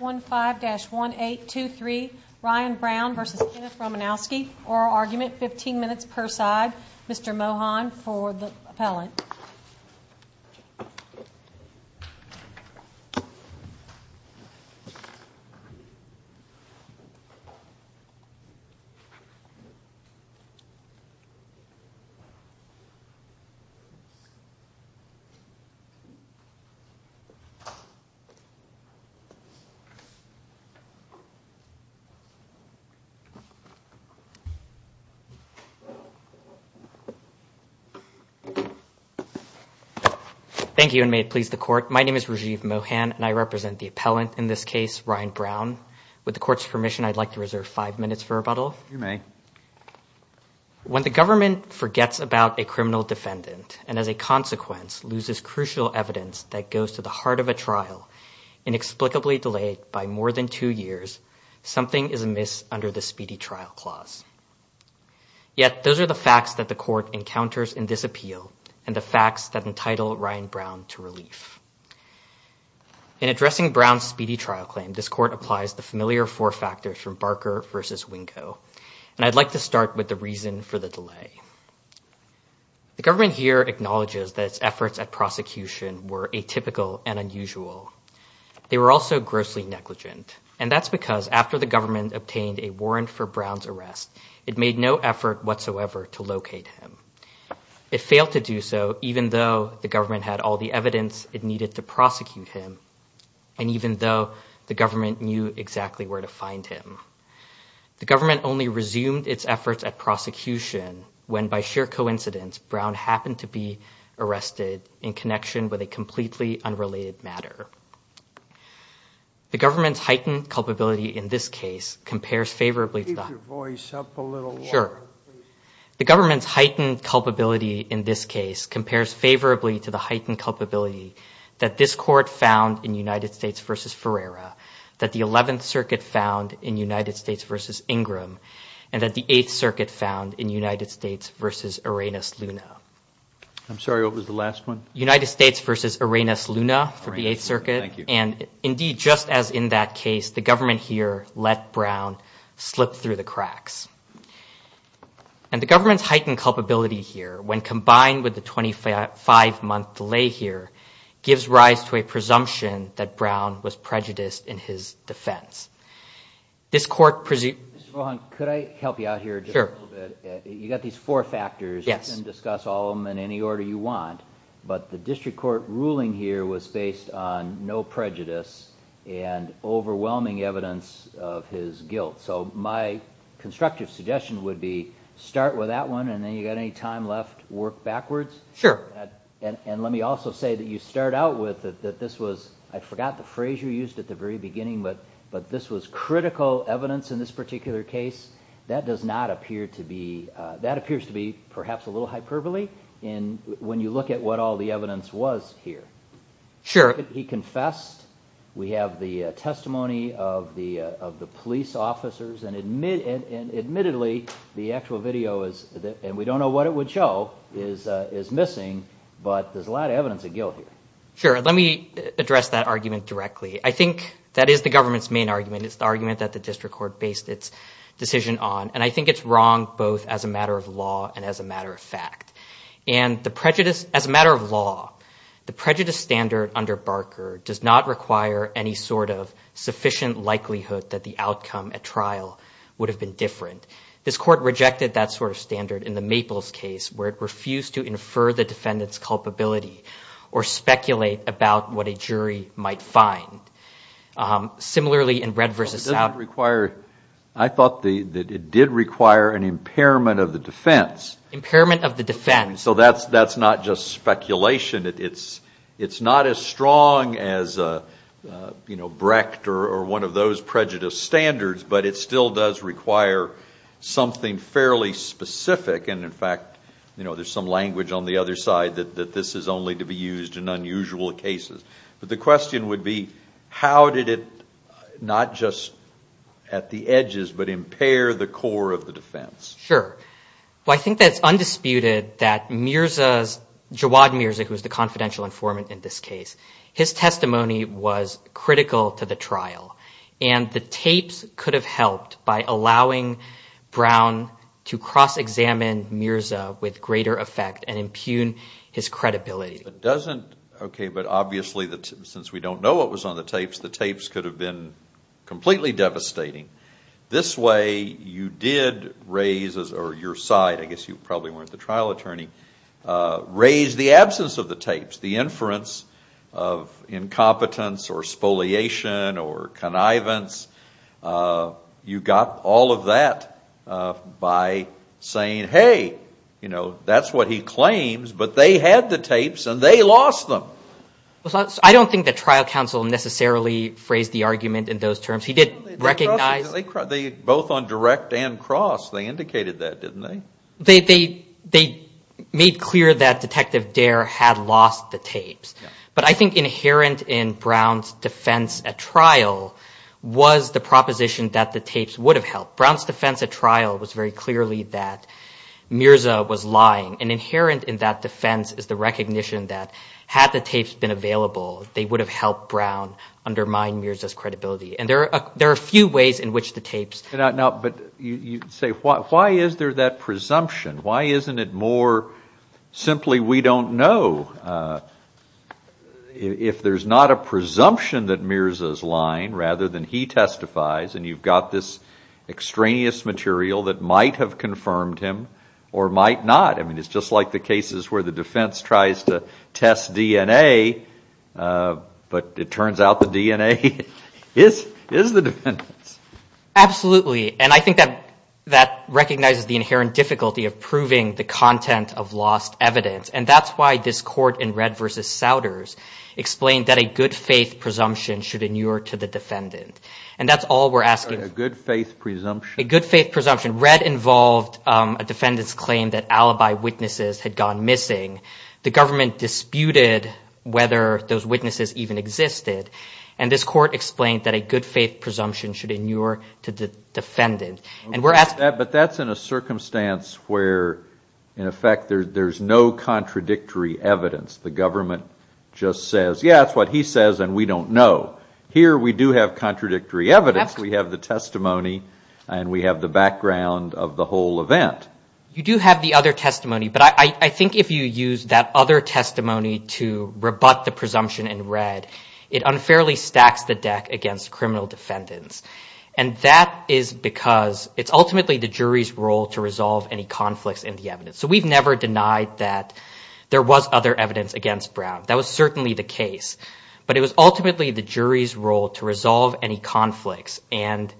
15-1823 Ryan Brown v. Kenneth Romanowski Oral argument, 15 minutes per side. Mr. Mohan for the appellant. Thank you and may it please the court. My name is Rajiv Mohan and I represent the appellant in this case, Ryan Brown. With the court's permission, I'd like to reserve five minutes for rebuttal. You may. When the government forgets about a criminal defendant and as a consequence loses crucial evidence that goes to the heart of a trial inexplicably delayed by more than two years, something is amiss under the speedy trial clause. Yet those are the facts that the court encounters in this appeal and the facts that entitle Ryan Brown to relief. In addressing Brown's speedy trial claim, this court applies the familiar four factors from Barker v. Wingo, and I'd like to start with the reason for the delay. The government here acknowledges that its efforts at prosecution were atypical and unusual. They were also grossly negligent, and that's because after the government obtained a warrant for Brown's arrest, it made no effort whatsoever to locate him. It failed to do so even though the government had all the evidence it needed to prosecute him, and even though the government knew exactly where to find him. The government only resumed its efforts at prosecution when, by sheer coincidence, Brown happened to be arrested in connection with a completely unrelated matter. The government's heightened culpability in this case compares favorably to the heightened culpability that this court found in United States v. Ferreira, that the Eleventh Circuit found in United States v. Ingram, and that the Eighth Circuit found in United States v. Arenas Luna. I'm sorry, what was the last one? United States v. Arenas Luna for the Eighth Circuit. Thank you. And indeed, just as in that case, the government here let Brown slip through the cracks. And the government's heightened culpability here, when combined with the 25-month delay here, gives rise to a presumption that Brown was prejudiced in his defense. Mr. Bohan, could I help you out here just a little bit? Sure. You've got these four factors. Yes. You can discuss all of them in any order you want, but the district court ruling here was based on no prejudice and overwhelming evidence of his guilt. So my constructive suggestion would be start with that one, and then if you've got any time left, work backwards. Sure. And let me also say that you start out with that this was, I forgot the phrase you used at the very beginning, but this was critical evidence in this particular case. That does not appear to be, that appears to be perhaps a little hyperbole when you look at what all the evidence was here. Sure. We have the testimony of the police officers, and admittedly, the actual video is, and we don't know what it would show, is missing, but there's a lot of evidence of guilt here. Sure. Let me address that argument directly. I think that is the government's main argument. It's the argument that the district court based its decision on, and I think it's wrong both as a matter of law and as a matter of fact. And the prejudice, as a matter of law, the prejudice standard under Barker does not require any sort of sufficient likelihood that the outcome at trial would have been different. This court rejected that sort of standard in the Maples case where it refused to infer the defendant's culpability or speculate about what a jury might find. Similarly, in Red v. South. It doesn't require, I thought that it did require an impairment of the defense. Impairment of the defense. So that's not just speculation. It's not as strong as Brecht or one of those prejudice standards, but it still does require something fairly specific. And, in fact, there's some language on the other side that this is only to be used in unusual cases. But the question would be, how did it not just at the edges, but impair the core of the defense? Sure. Well, I think that it's undisputed that Mirza's, Jawad Mirza, who was the confidential informant in this case, his testimony was critical to the trial. And the tapes could have helped by allowing Brown to cross-examine Mirza with greater effect and impugn his credibility. It doesn't, okay, but obviously since we don't know what was on the tapes, the tapes could have been completely devastating. This way you did raise, or your side, I guess you probably weren't the trial attorney, raised the absence of the tapes. The inference of incompetence or spoliation or connivance. You got all of that by saying, hey, you know, that's what he claims, but they had the tapes and they lost them. I don't think the trial counsel necessarily phrased the argument in those terms. He did recognize. They both on direct and cross, they indicated that, didn't they? They made clear that Detective Dare had lost the tapes. But I think inherent in Brown's defense at trial was the proposition that the tapes would have helped. Brown's defense at trial was very clearly that Mirza was lying. And inherent in that defense is the recognition that had the tapes been available, they would have helped Brown undermine Mirza's credibility. And there are a few ways in which the tapes. But you say, why is there that presumption? Why isn't it more simply we don't know? If there's not a presumption that Mirza's lying rather than he testifies and you've got this extraneous material that might have confirmed him or might not. I mean, it's just like the cases where the defense tries to test DNA, but it turns out the DNA is the defendant's. Absolutely. And I think that that recognizes the inherent difficulty of proving the content of lost evidence. And that's why this court in Red v. Souders explained that a good faith presumption should inure to the defendant. And that's all we're asking. A good faith presumption. A good faith presumption. And Red involved a defendant's claim that alibi witnesses had gone missing. The government disputed whether those witnesses even existed. And this court explained that a good faith presumption should inure to the defendant. But that's in a circumstance where, in effect, there's no contradictory evidence. The government just says, yeah, that's what he says and we don't know. Here we do have contradictory evidence. We have the testimony and we have the background of the whole event. You do have the other testimony, but I think if you use that other testimony to rebut the presumption in Red, it unfairly stacks the deck against criminal defendants. And that is because it's ultimately the jury's role to resolve any conflicts in the evidence. So we've never denied that there was other evidence against Brown. That was certainly the case. But it was ultimately the jury's role to resolve any conflicts. And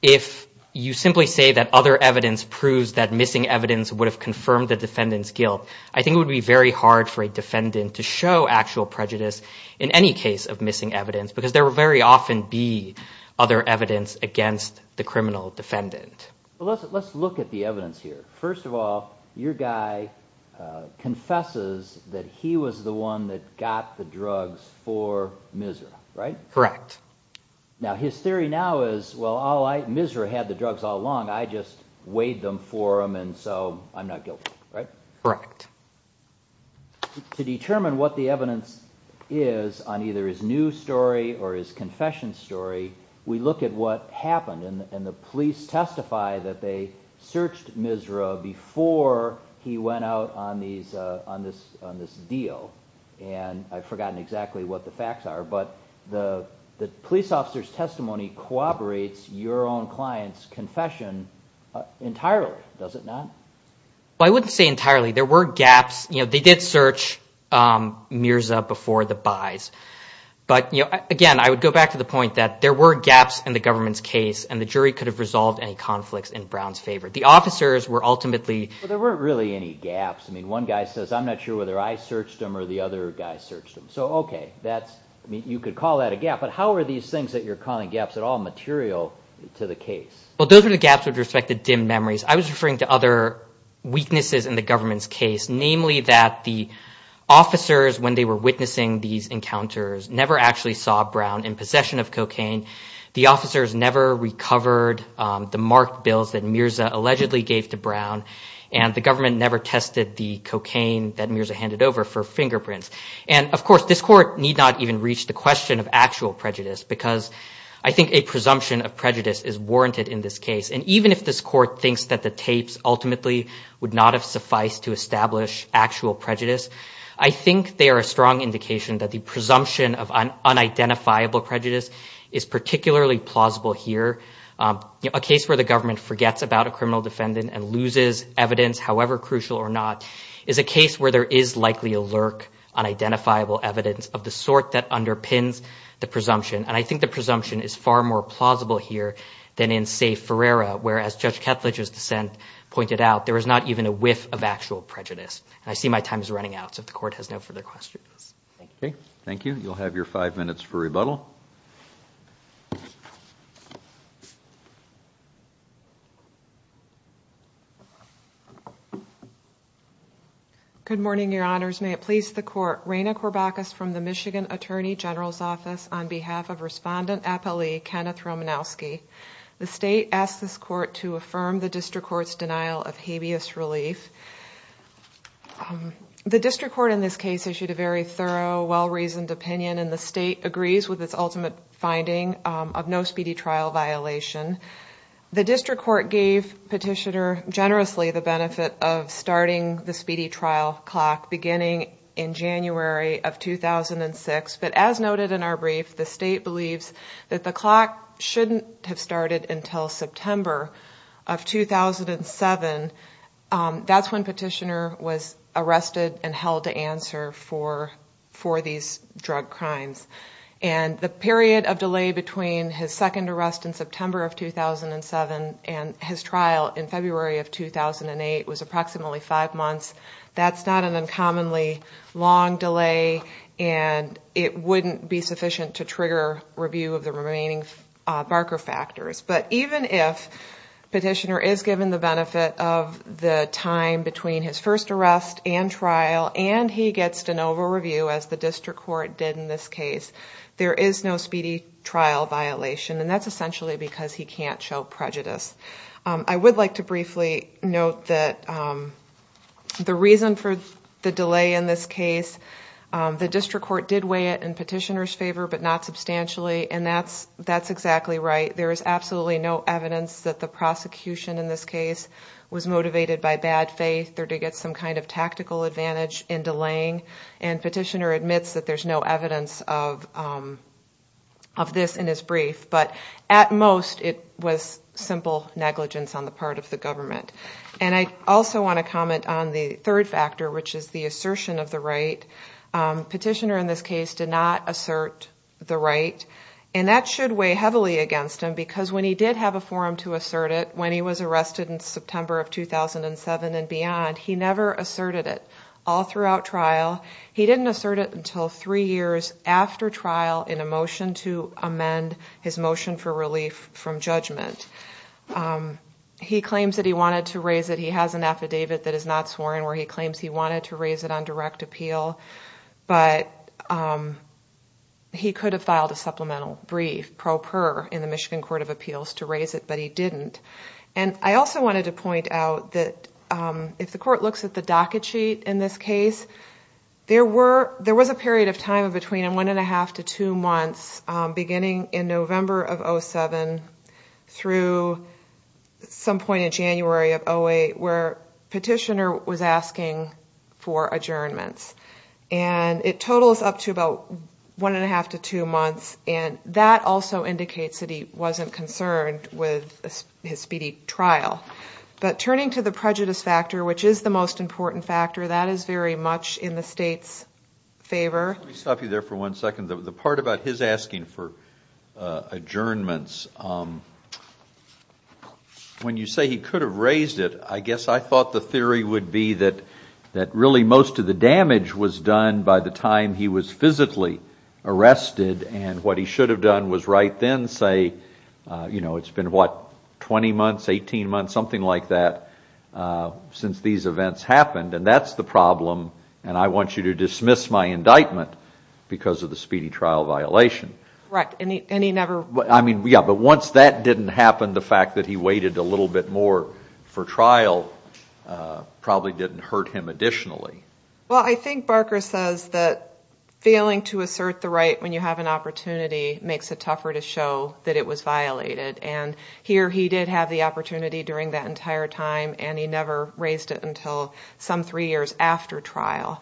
if you simply say that other evidence proves that missing evidence would have confirmed the defendant's guilt, I think it would be very hard for a defendant to show actual prejudice in any case of missing evidence because there will very often be other evidence against the criminal defendant. Let's look at the evidence here. First of all, your guy confesses that he was the one that got the drugs for Misra, right? Correct. Now, his theory now is, well, Misra had the drugs all along. I just weighed them for him and so I'm not guilty, right? Correct. To determine what the evidence is on either his new story or his confession story, we look at what happened and the police testify that they searched Misra before he went out on this deal. And I've forgotten exactly what the facts are, but the police officer's testimony corroborates your own client's confession entirely, does it not? Well, I wouldn't say entirely. There were gaps. They did search Mirza before the buys. But, again, I would go back to the point that there were gaps in the government's case and the jury could have resolved any conflicts in Brown's favor. The officers were ultimately- But there weren't really any gaps. I mean, one guy says, I'm not sure whether I searched him or the other guy searched him. So, okay, you could call that a gap, but how are these things that you're calling gaps at all material to the case? Well, those are the gaps with respect to dim memories. I was referring to other weaknesses in the government's case, namely that the officers, when they were witnessing these encounters, never actually saw Brown in possession of cocaine. The officers never recovered the marked bills that Mirza allegedly gave to Brown, and the government never tested the cocaine that Mirza handed over for fingerprints. And, of course, this court need not even reach the question of actual prejudice because I think a presumption of prejudice is warranted in this case. And even if this court thinks that the tapes ultimately would not have sufficed to establish actual prejudice, I think they are a strong indication that the presumption of unidentifiable prejudice is particularly plausible here. A case where the government forgets about a criminal defendant and loses evidence, however crucial or not, is a case where there is likely to lurk unidentifiable evidence of the sort that underpins the presumption. And I think the presumption is far more plausible here than in, say, Ferreira, where, as Judge Ketledge's dissent pointed out, there is not even a whiff of actual prejudice. And I see my time is running out, so if the court has no further questions. Okay, thank you. You'll have your five minutes for rebuttal. Good morning, Your Honors. May it please the court, Raina Corbachus from the Michigan Attorney General's Office on behalf of Respondent Appellee Kenneth Romanowski. The state asked this court to affirm the district court's denial of habeas relief. The district court in this case issued a very thorough, well-reasoned opinion, and the state agrees with its ultimate finding of no speedy trial violation. The district court gave Petitioner generously the benefit of starting the speedy trial clock beginning in January of 2006, but as noted in our brief, the state believes that the clock shouldn't have started until September of 2007. That's when Petitioner was arrested and held to answer for these drug crimes. And the period of delay between his second arrest in September of 2007 and his trial in February of 2008 was approximately five months. That's not an uncommonly long delay, and it wouldn't be sufficient to trigger review of the remaining Barker factors. But even if Petitioner is given the benefit of the time between his first arrest and trial, and he gets de novo review, as the district court did in this case, there is no speedy trial violation, and that's essentially because he can't show prejudice. I would like to briefly note that the reason for the delay in this case, the district court did weigh it in Petitioner's favor, but not substantially, and that's exactly right. There is absolutely no evidence that the prosecution in this case was motivated by bad faith or to get some kind of tactical advantage in delaying, and Petitioner admits that there's no evidence of this in his brief. But at most, it was simple negligence on the part of the government. And I also want to comment on the third factor, which is the assertion of the right. Petitioner in this case did not assert the right, and that should weigh heavily against him because when he did have a forum to assert it, when he was arrested in September of 2007 and beyond, he never asserted it all throughout trial. He didn't assert it until three years after trial in a motion to amend his motion for relief from judgment. He claims that he wanted to raise it. He has an affidavit that is not sworn where he claims he wanted to raise it on direct appeal, but he could have filed a supplemental brief, pro per, in the Michigan Court of Appeals to raise it, but he didn't. And I also wanted to point out that if the court looks at the docket sheet in this case, there was a period of time between one and a half to two months, beginning in November of 2007 through some point in January of 2008, where Petitioner was asking for adjournments. And it totals up to about one and a half to two months, and that also indicates that he wasn't concerned with his speedy trial. But turning to the prejudice factor, which is the most important factor, that is very much in the state's favor. Let me stop you there for one second. The part about his asking for adjournments, when you say he could have raised it, I guess I thought the theory would be that really most of the damage was done by the time he was physically arrested, and what he should have done was right then say, you know, it's been what, 20 months, 18 months, something like that, since these events happened, and that's the problem, and I want you to dismiss my indictment because of the speedy trial violation. Right, and he never... Yeah, but once that didn't happen, the fact that he waited a little bit more for trial probably didn't hurt him additionally. Well, I think Barker says that failing to assert the right when you have an opportunity makes it tougher to show that it was violated, and here he did have the opportunity during that entire time, and he never raised it until some three years after trial.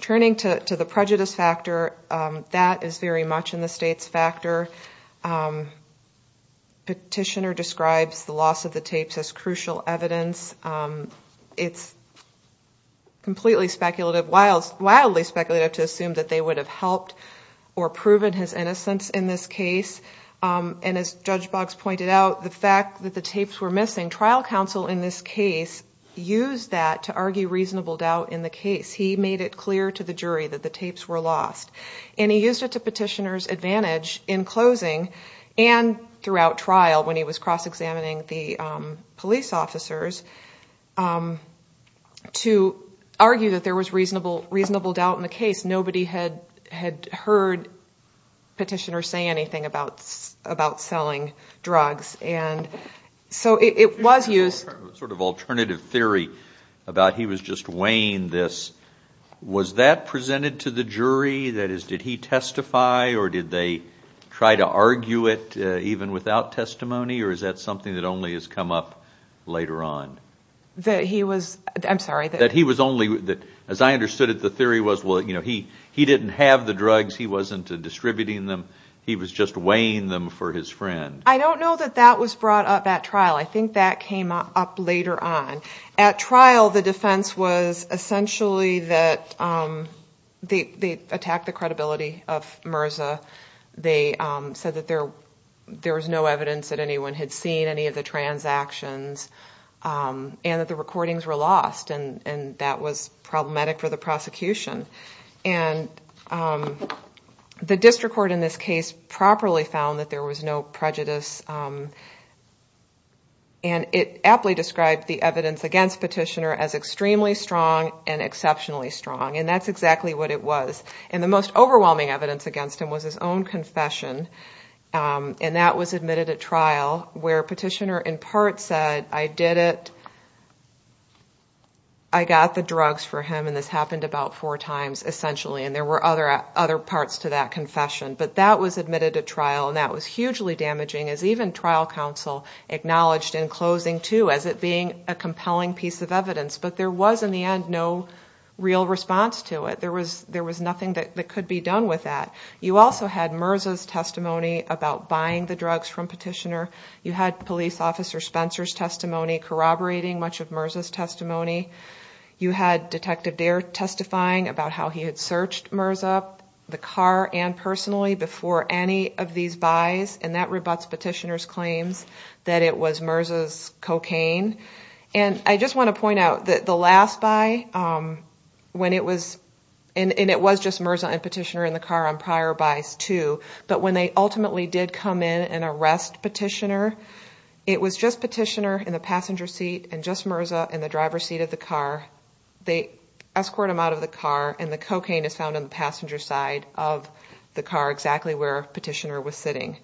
Turning to the prejudice factor, that is very much in the state's factor. Petitioner describes the loss of the tapes as crucial evidence. It's completely speculative, wildly speculative to assume that they would have helped or proven his innocence in this case, and as Judge Boggs pointed out, the fact that the tapes were missing, trial counsel in this case used that to argue reasonable doubt in the case. He made it clear to the jury that the tapes were lost, and he used it to petitioner's advantage in closing and throughout trial when he was cross-examining the police officers to argue that there was reasonable doubt in the case. Nobody had heard petitioner say anything about selling drugs, and so it was used... Sort of alternative theory about he was just weighing this. Was that presented to the jury? That is, did he testify, or did they try to argue it even without testimony, or is that something that only has come up later on? That he was... I'm sorry. That he was only... As I understood it, the theory was, well, you know, he didn't have the drugs, he wasn't distributing them, he was just weighing them for his friend. I don't know that that was brought up at trial. I think that came up later on. At trial, the defense was essentially that they attacked the credibility of MRSA. They said that there was no evidence that anyone had seen any of the transactions, and that the recordings were lost, and that was problematic for the prosecution. The district court in this case properly found that there was no prejudice, and it aptly described the evidence against petitioner as extremely strong and exceptionally strong, and that's exactly what it was. And the most overwhelming evidence against him was his own confession, and that was admitted at trial, where petitioner in part said, I did it, I got the drugs for him, and this happened about four times, essentially, and there were other parts to that confession. But that was admitted at trial, and that was hugely damaging, as even trial counsel acknowledged in closing, too, as it being a compelling piece of evidence. But there was, in the end, no real response to it. There was nothing that could be done with that. You also had MRSA's testimony about buying the drugs from petitioner. You had Police Officer Spencer's testimony corroborating much of MRSA's testimony. You had Detective Dare testifying about how he had searched MRSA, the car, and personally before any of these buys, and that rebuts petitioner's claims that it was MRSA's cocaine. And I just want to point out that the last buy, when it was, and it was just MRSA and petitioner in the car on prior buys, too, but when they ultimately did come in and arrest petitioner, it was just petitioner in the passenger seat, and just MRSA in the driver's seat of the car. They escort him out of the car, and the cocaine is found on the passenger side of the car, exactly where petitioner was sitting.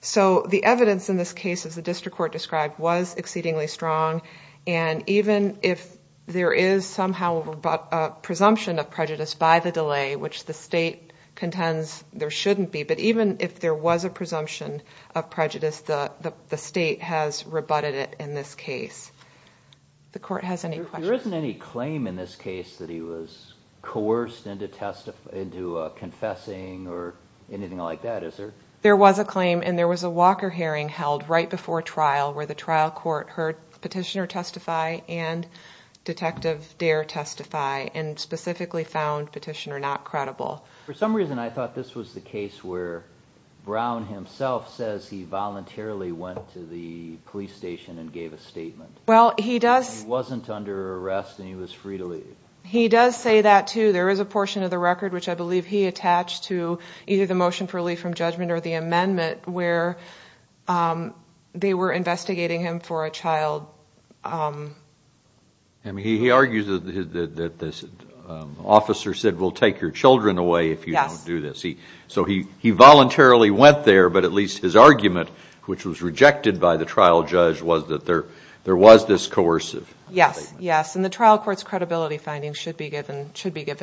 So the evidence in this case, as the district court described, was exceedingly strong, and even if there is somehow a presumption of prejudice by the delay, which the state contends there shouldn't be, but even if there was a presumption of prejudice, the state has rebutted it in this case. The court has any questions? There isn't any claim in this case that he was coerced into confessing or anything like that, is there? There was a claim, and there was a Walker hearing held right before trial where the trial court heard petitioner testify and Detective Dare testify, and specifically found petitioner not credible. For some reason I thought this was the case where Brown himself says he voluntarily went to the police station and gave a statement. He wasn't under arrest, and he was free to leave. He does say that, too. There is a portion of the record which I believe he attached to either the motion for relief from judgment or the amendment where they were investigating him for a child. He argues that this officer said, you will take your children away if you don't do this. He voluntarily went there, but at least his argument, which was rejected by the trial judge, was that there was this coercive statement. Yes, and the trial court's credibility findings should be given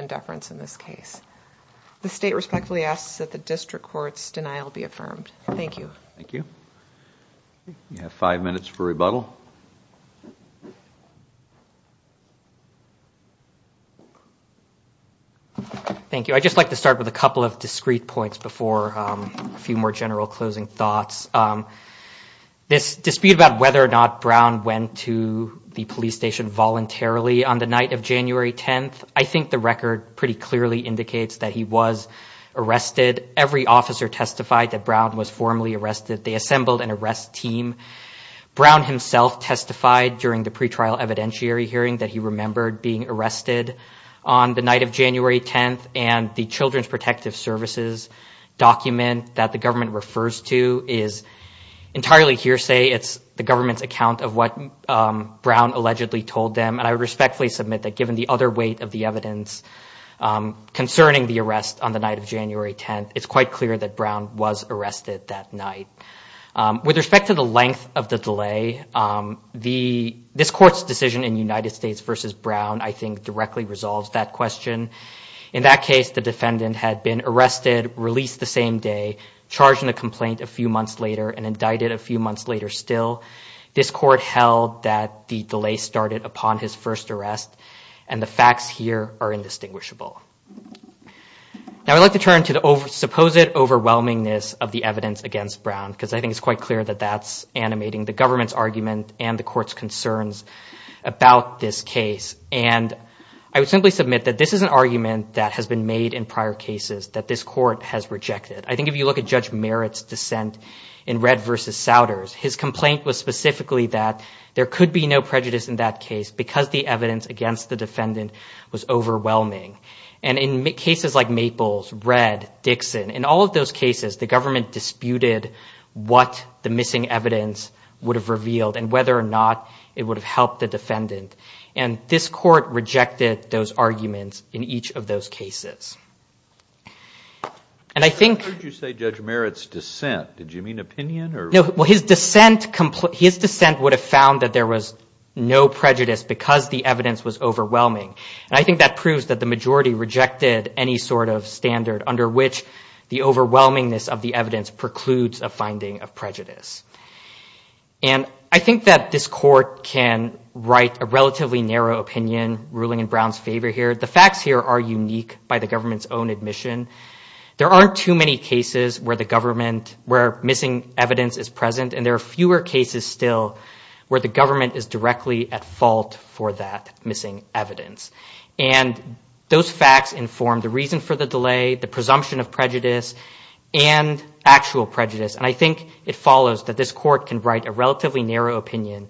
deference in this case. The state respectfully asks that the district court's denial be affirmed. Thank you. We have five minutes for rebuttal. Thank you. I'd just like to start with a couple of discrete points before a few more general closing thoughts. This dispute about whether or not Brown went to the police station voluntarily on the night of January 10, I think the record pretty clearly indicates that he was arrested. Every officer testified that Brown was formally arrested. They assembled an arrest team. Brown himself testified during the pretrial evidentiary hearing that he remembered being arrested on the night of January 10, and the Children's Protective Services document that the government refers to is entirely hearsay. It's the government's account of what Brown allegedly told them, and I would respectfully submit that given the other weight of the evidence concerning the arrest on the night of January 10, it's quite clear that Brown was arrested that night. With respect to the length of the delay, this court's decision in the United States versus Brown I think directly resolves that question. In that case, the defendant had been arrested, released the same day, charged in a complaint a few months later, and indicted a few months later still. This court held that the delay started upon his first arrest, and the facts here are indistinguishable. Now I'd like to turn to the supposed overwhelmingness of the evidence against Brown, because I think it's quite clear that that's animating the government's argument and the court's concerns about this case. And I would simply submit that this is an argument that has been made in prior cases that this court has rejected. I think if you look at Judge Merritt's dissent in Red versus Souders, his complaint was specifically that there could be no prejudice in that case because the evidence against the defendant was overwhelming. And in cases like Maples, Red, Dixon, in all of those cases the government disputed what the missing evidence would have revealed and whether or not it would have helped the defendant. And this court rejected those arguments in each of those cases. And I think... Well, his dissent would have found that there was no prejudice because the evidence was overwhelming. And I think that proves that the majority rejected any sort of standard under which the overwhelmingness of the evidence precludes a finding of prejudice. And I think that this court can write a relatively narrow opinion ruling in Brown's favor here. The facts here are unique by the government's own admission. There aren't too many cases where the government, where missing evidence is present, and there are fewer cases still where the government is directly at fault for that missing evidence. And those facts inform the reason for the delay, the presumption of prejudice, and actual prejudice. And I think it follows that this court can write a relatively narrow opinion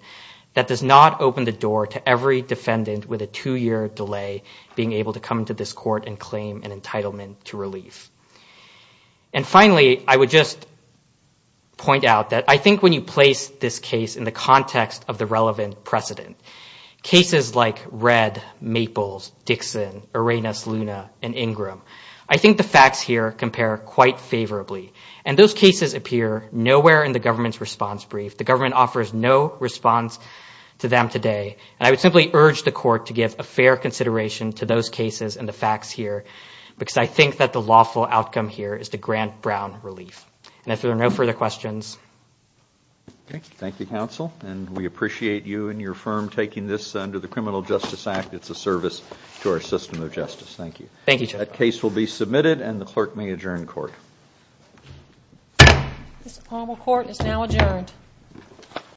that does not open the door to every defendant with a two-year delay being able to come to this court and claim an entitlement to relief. And finally, I would just point out that I think when you place this case in the context of the relevant precedent, cases like Red, Maples, Dixon, Arenas, Luna, and Ingram, I think the facts here compare quite favorably. And those cases appear nowhere in the government's response brief. The government offers no response to them today. And I would simply urge the court to give a fair consideration to those cases and the facts here because I think that the lawful outcome here is to grant Brown relief. And if there are no further questions... Thank you, counsel. And we appreciate you and your firm taking this under the Criminal Justice Act. It's a service to our system of justice. Thank you. That case will be submitted, and the clerk may adjourn court. This appointed court is now adjourned.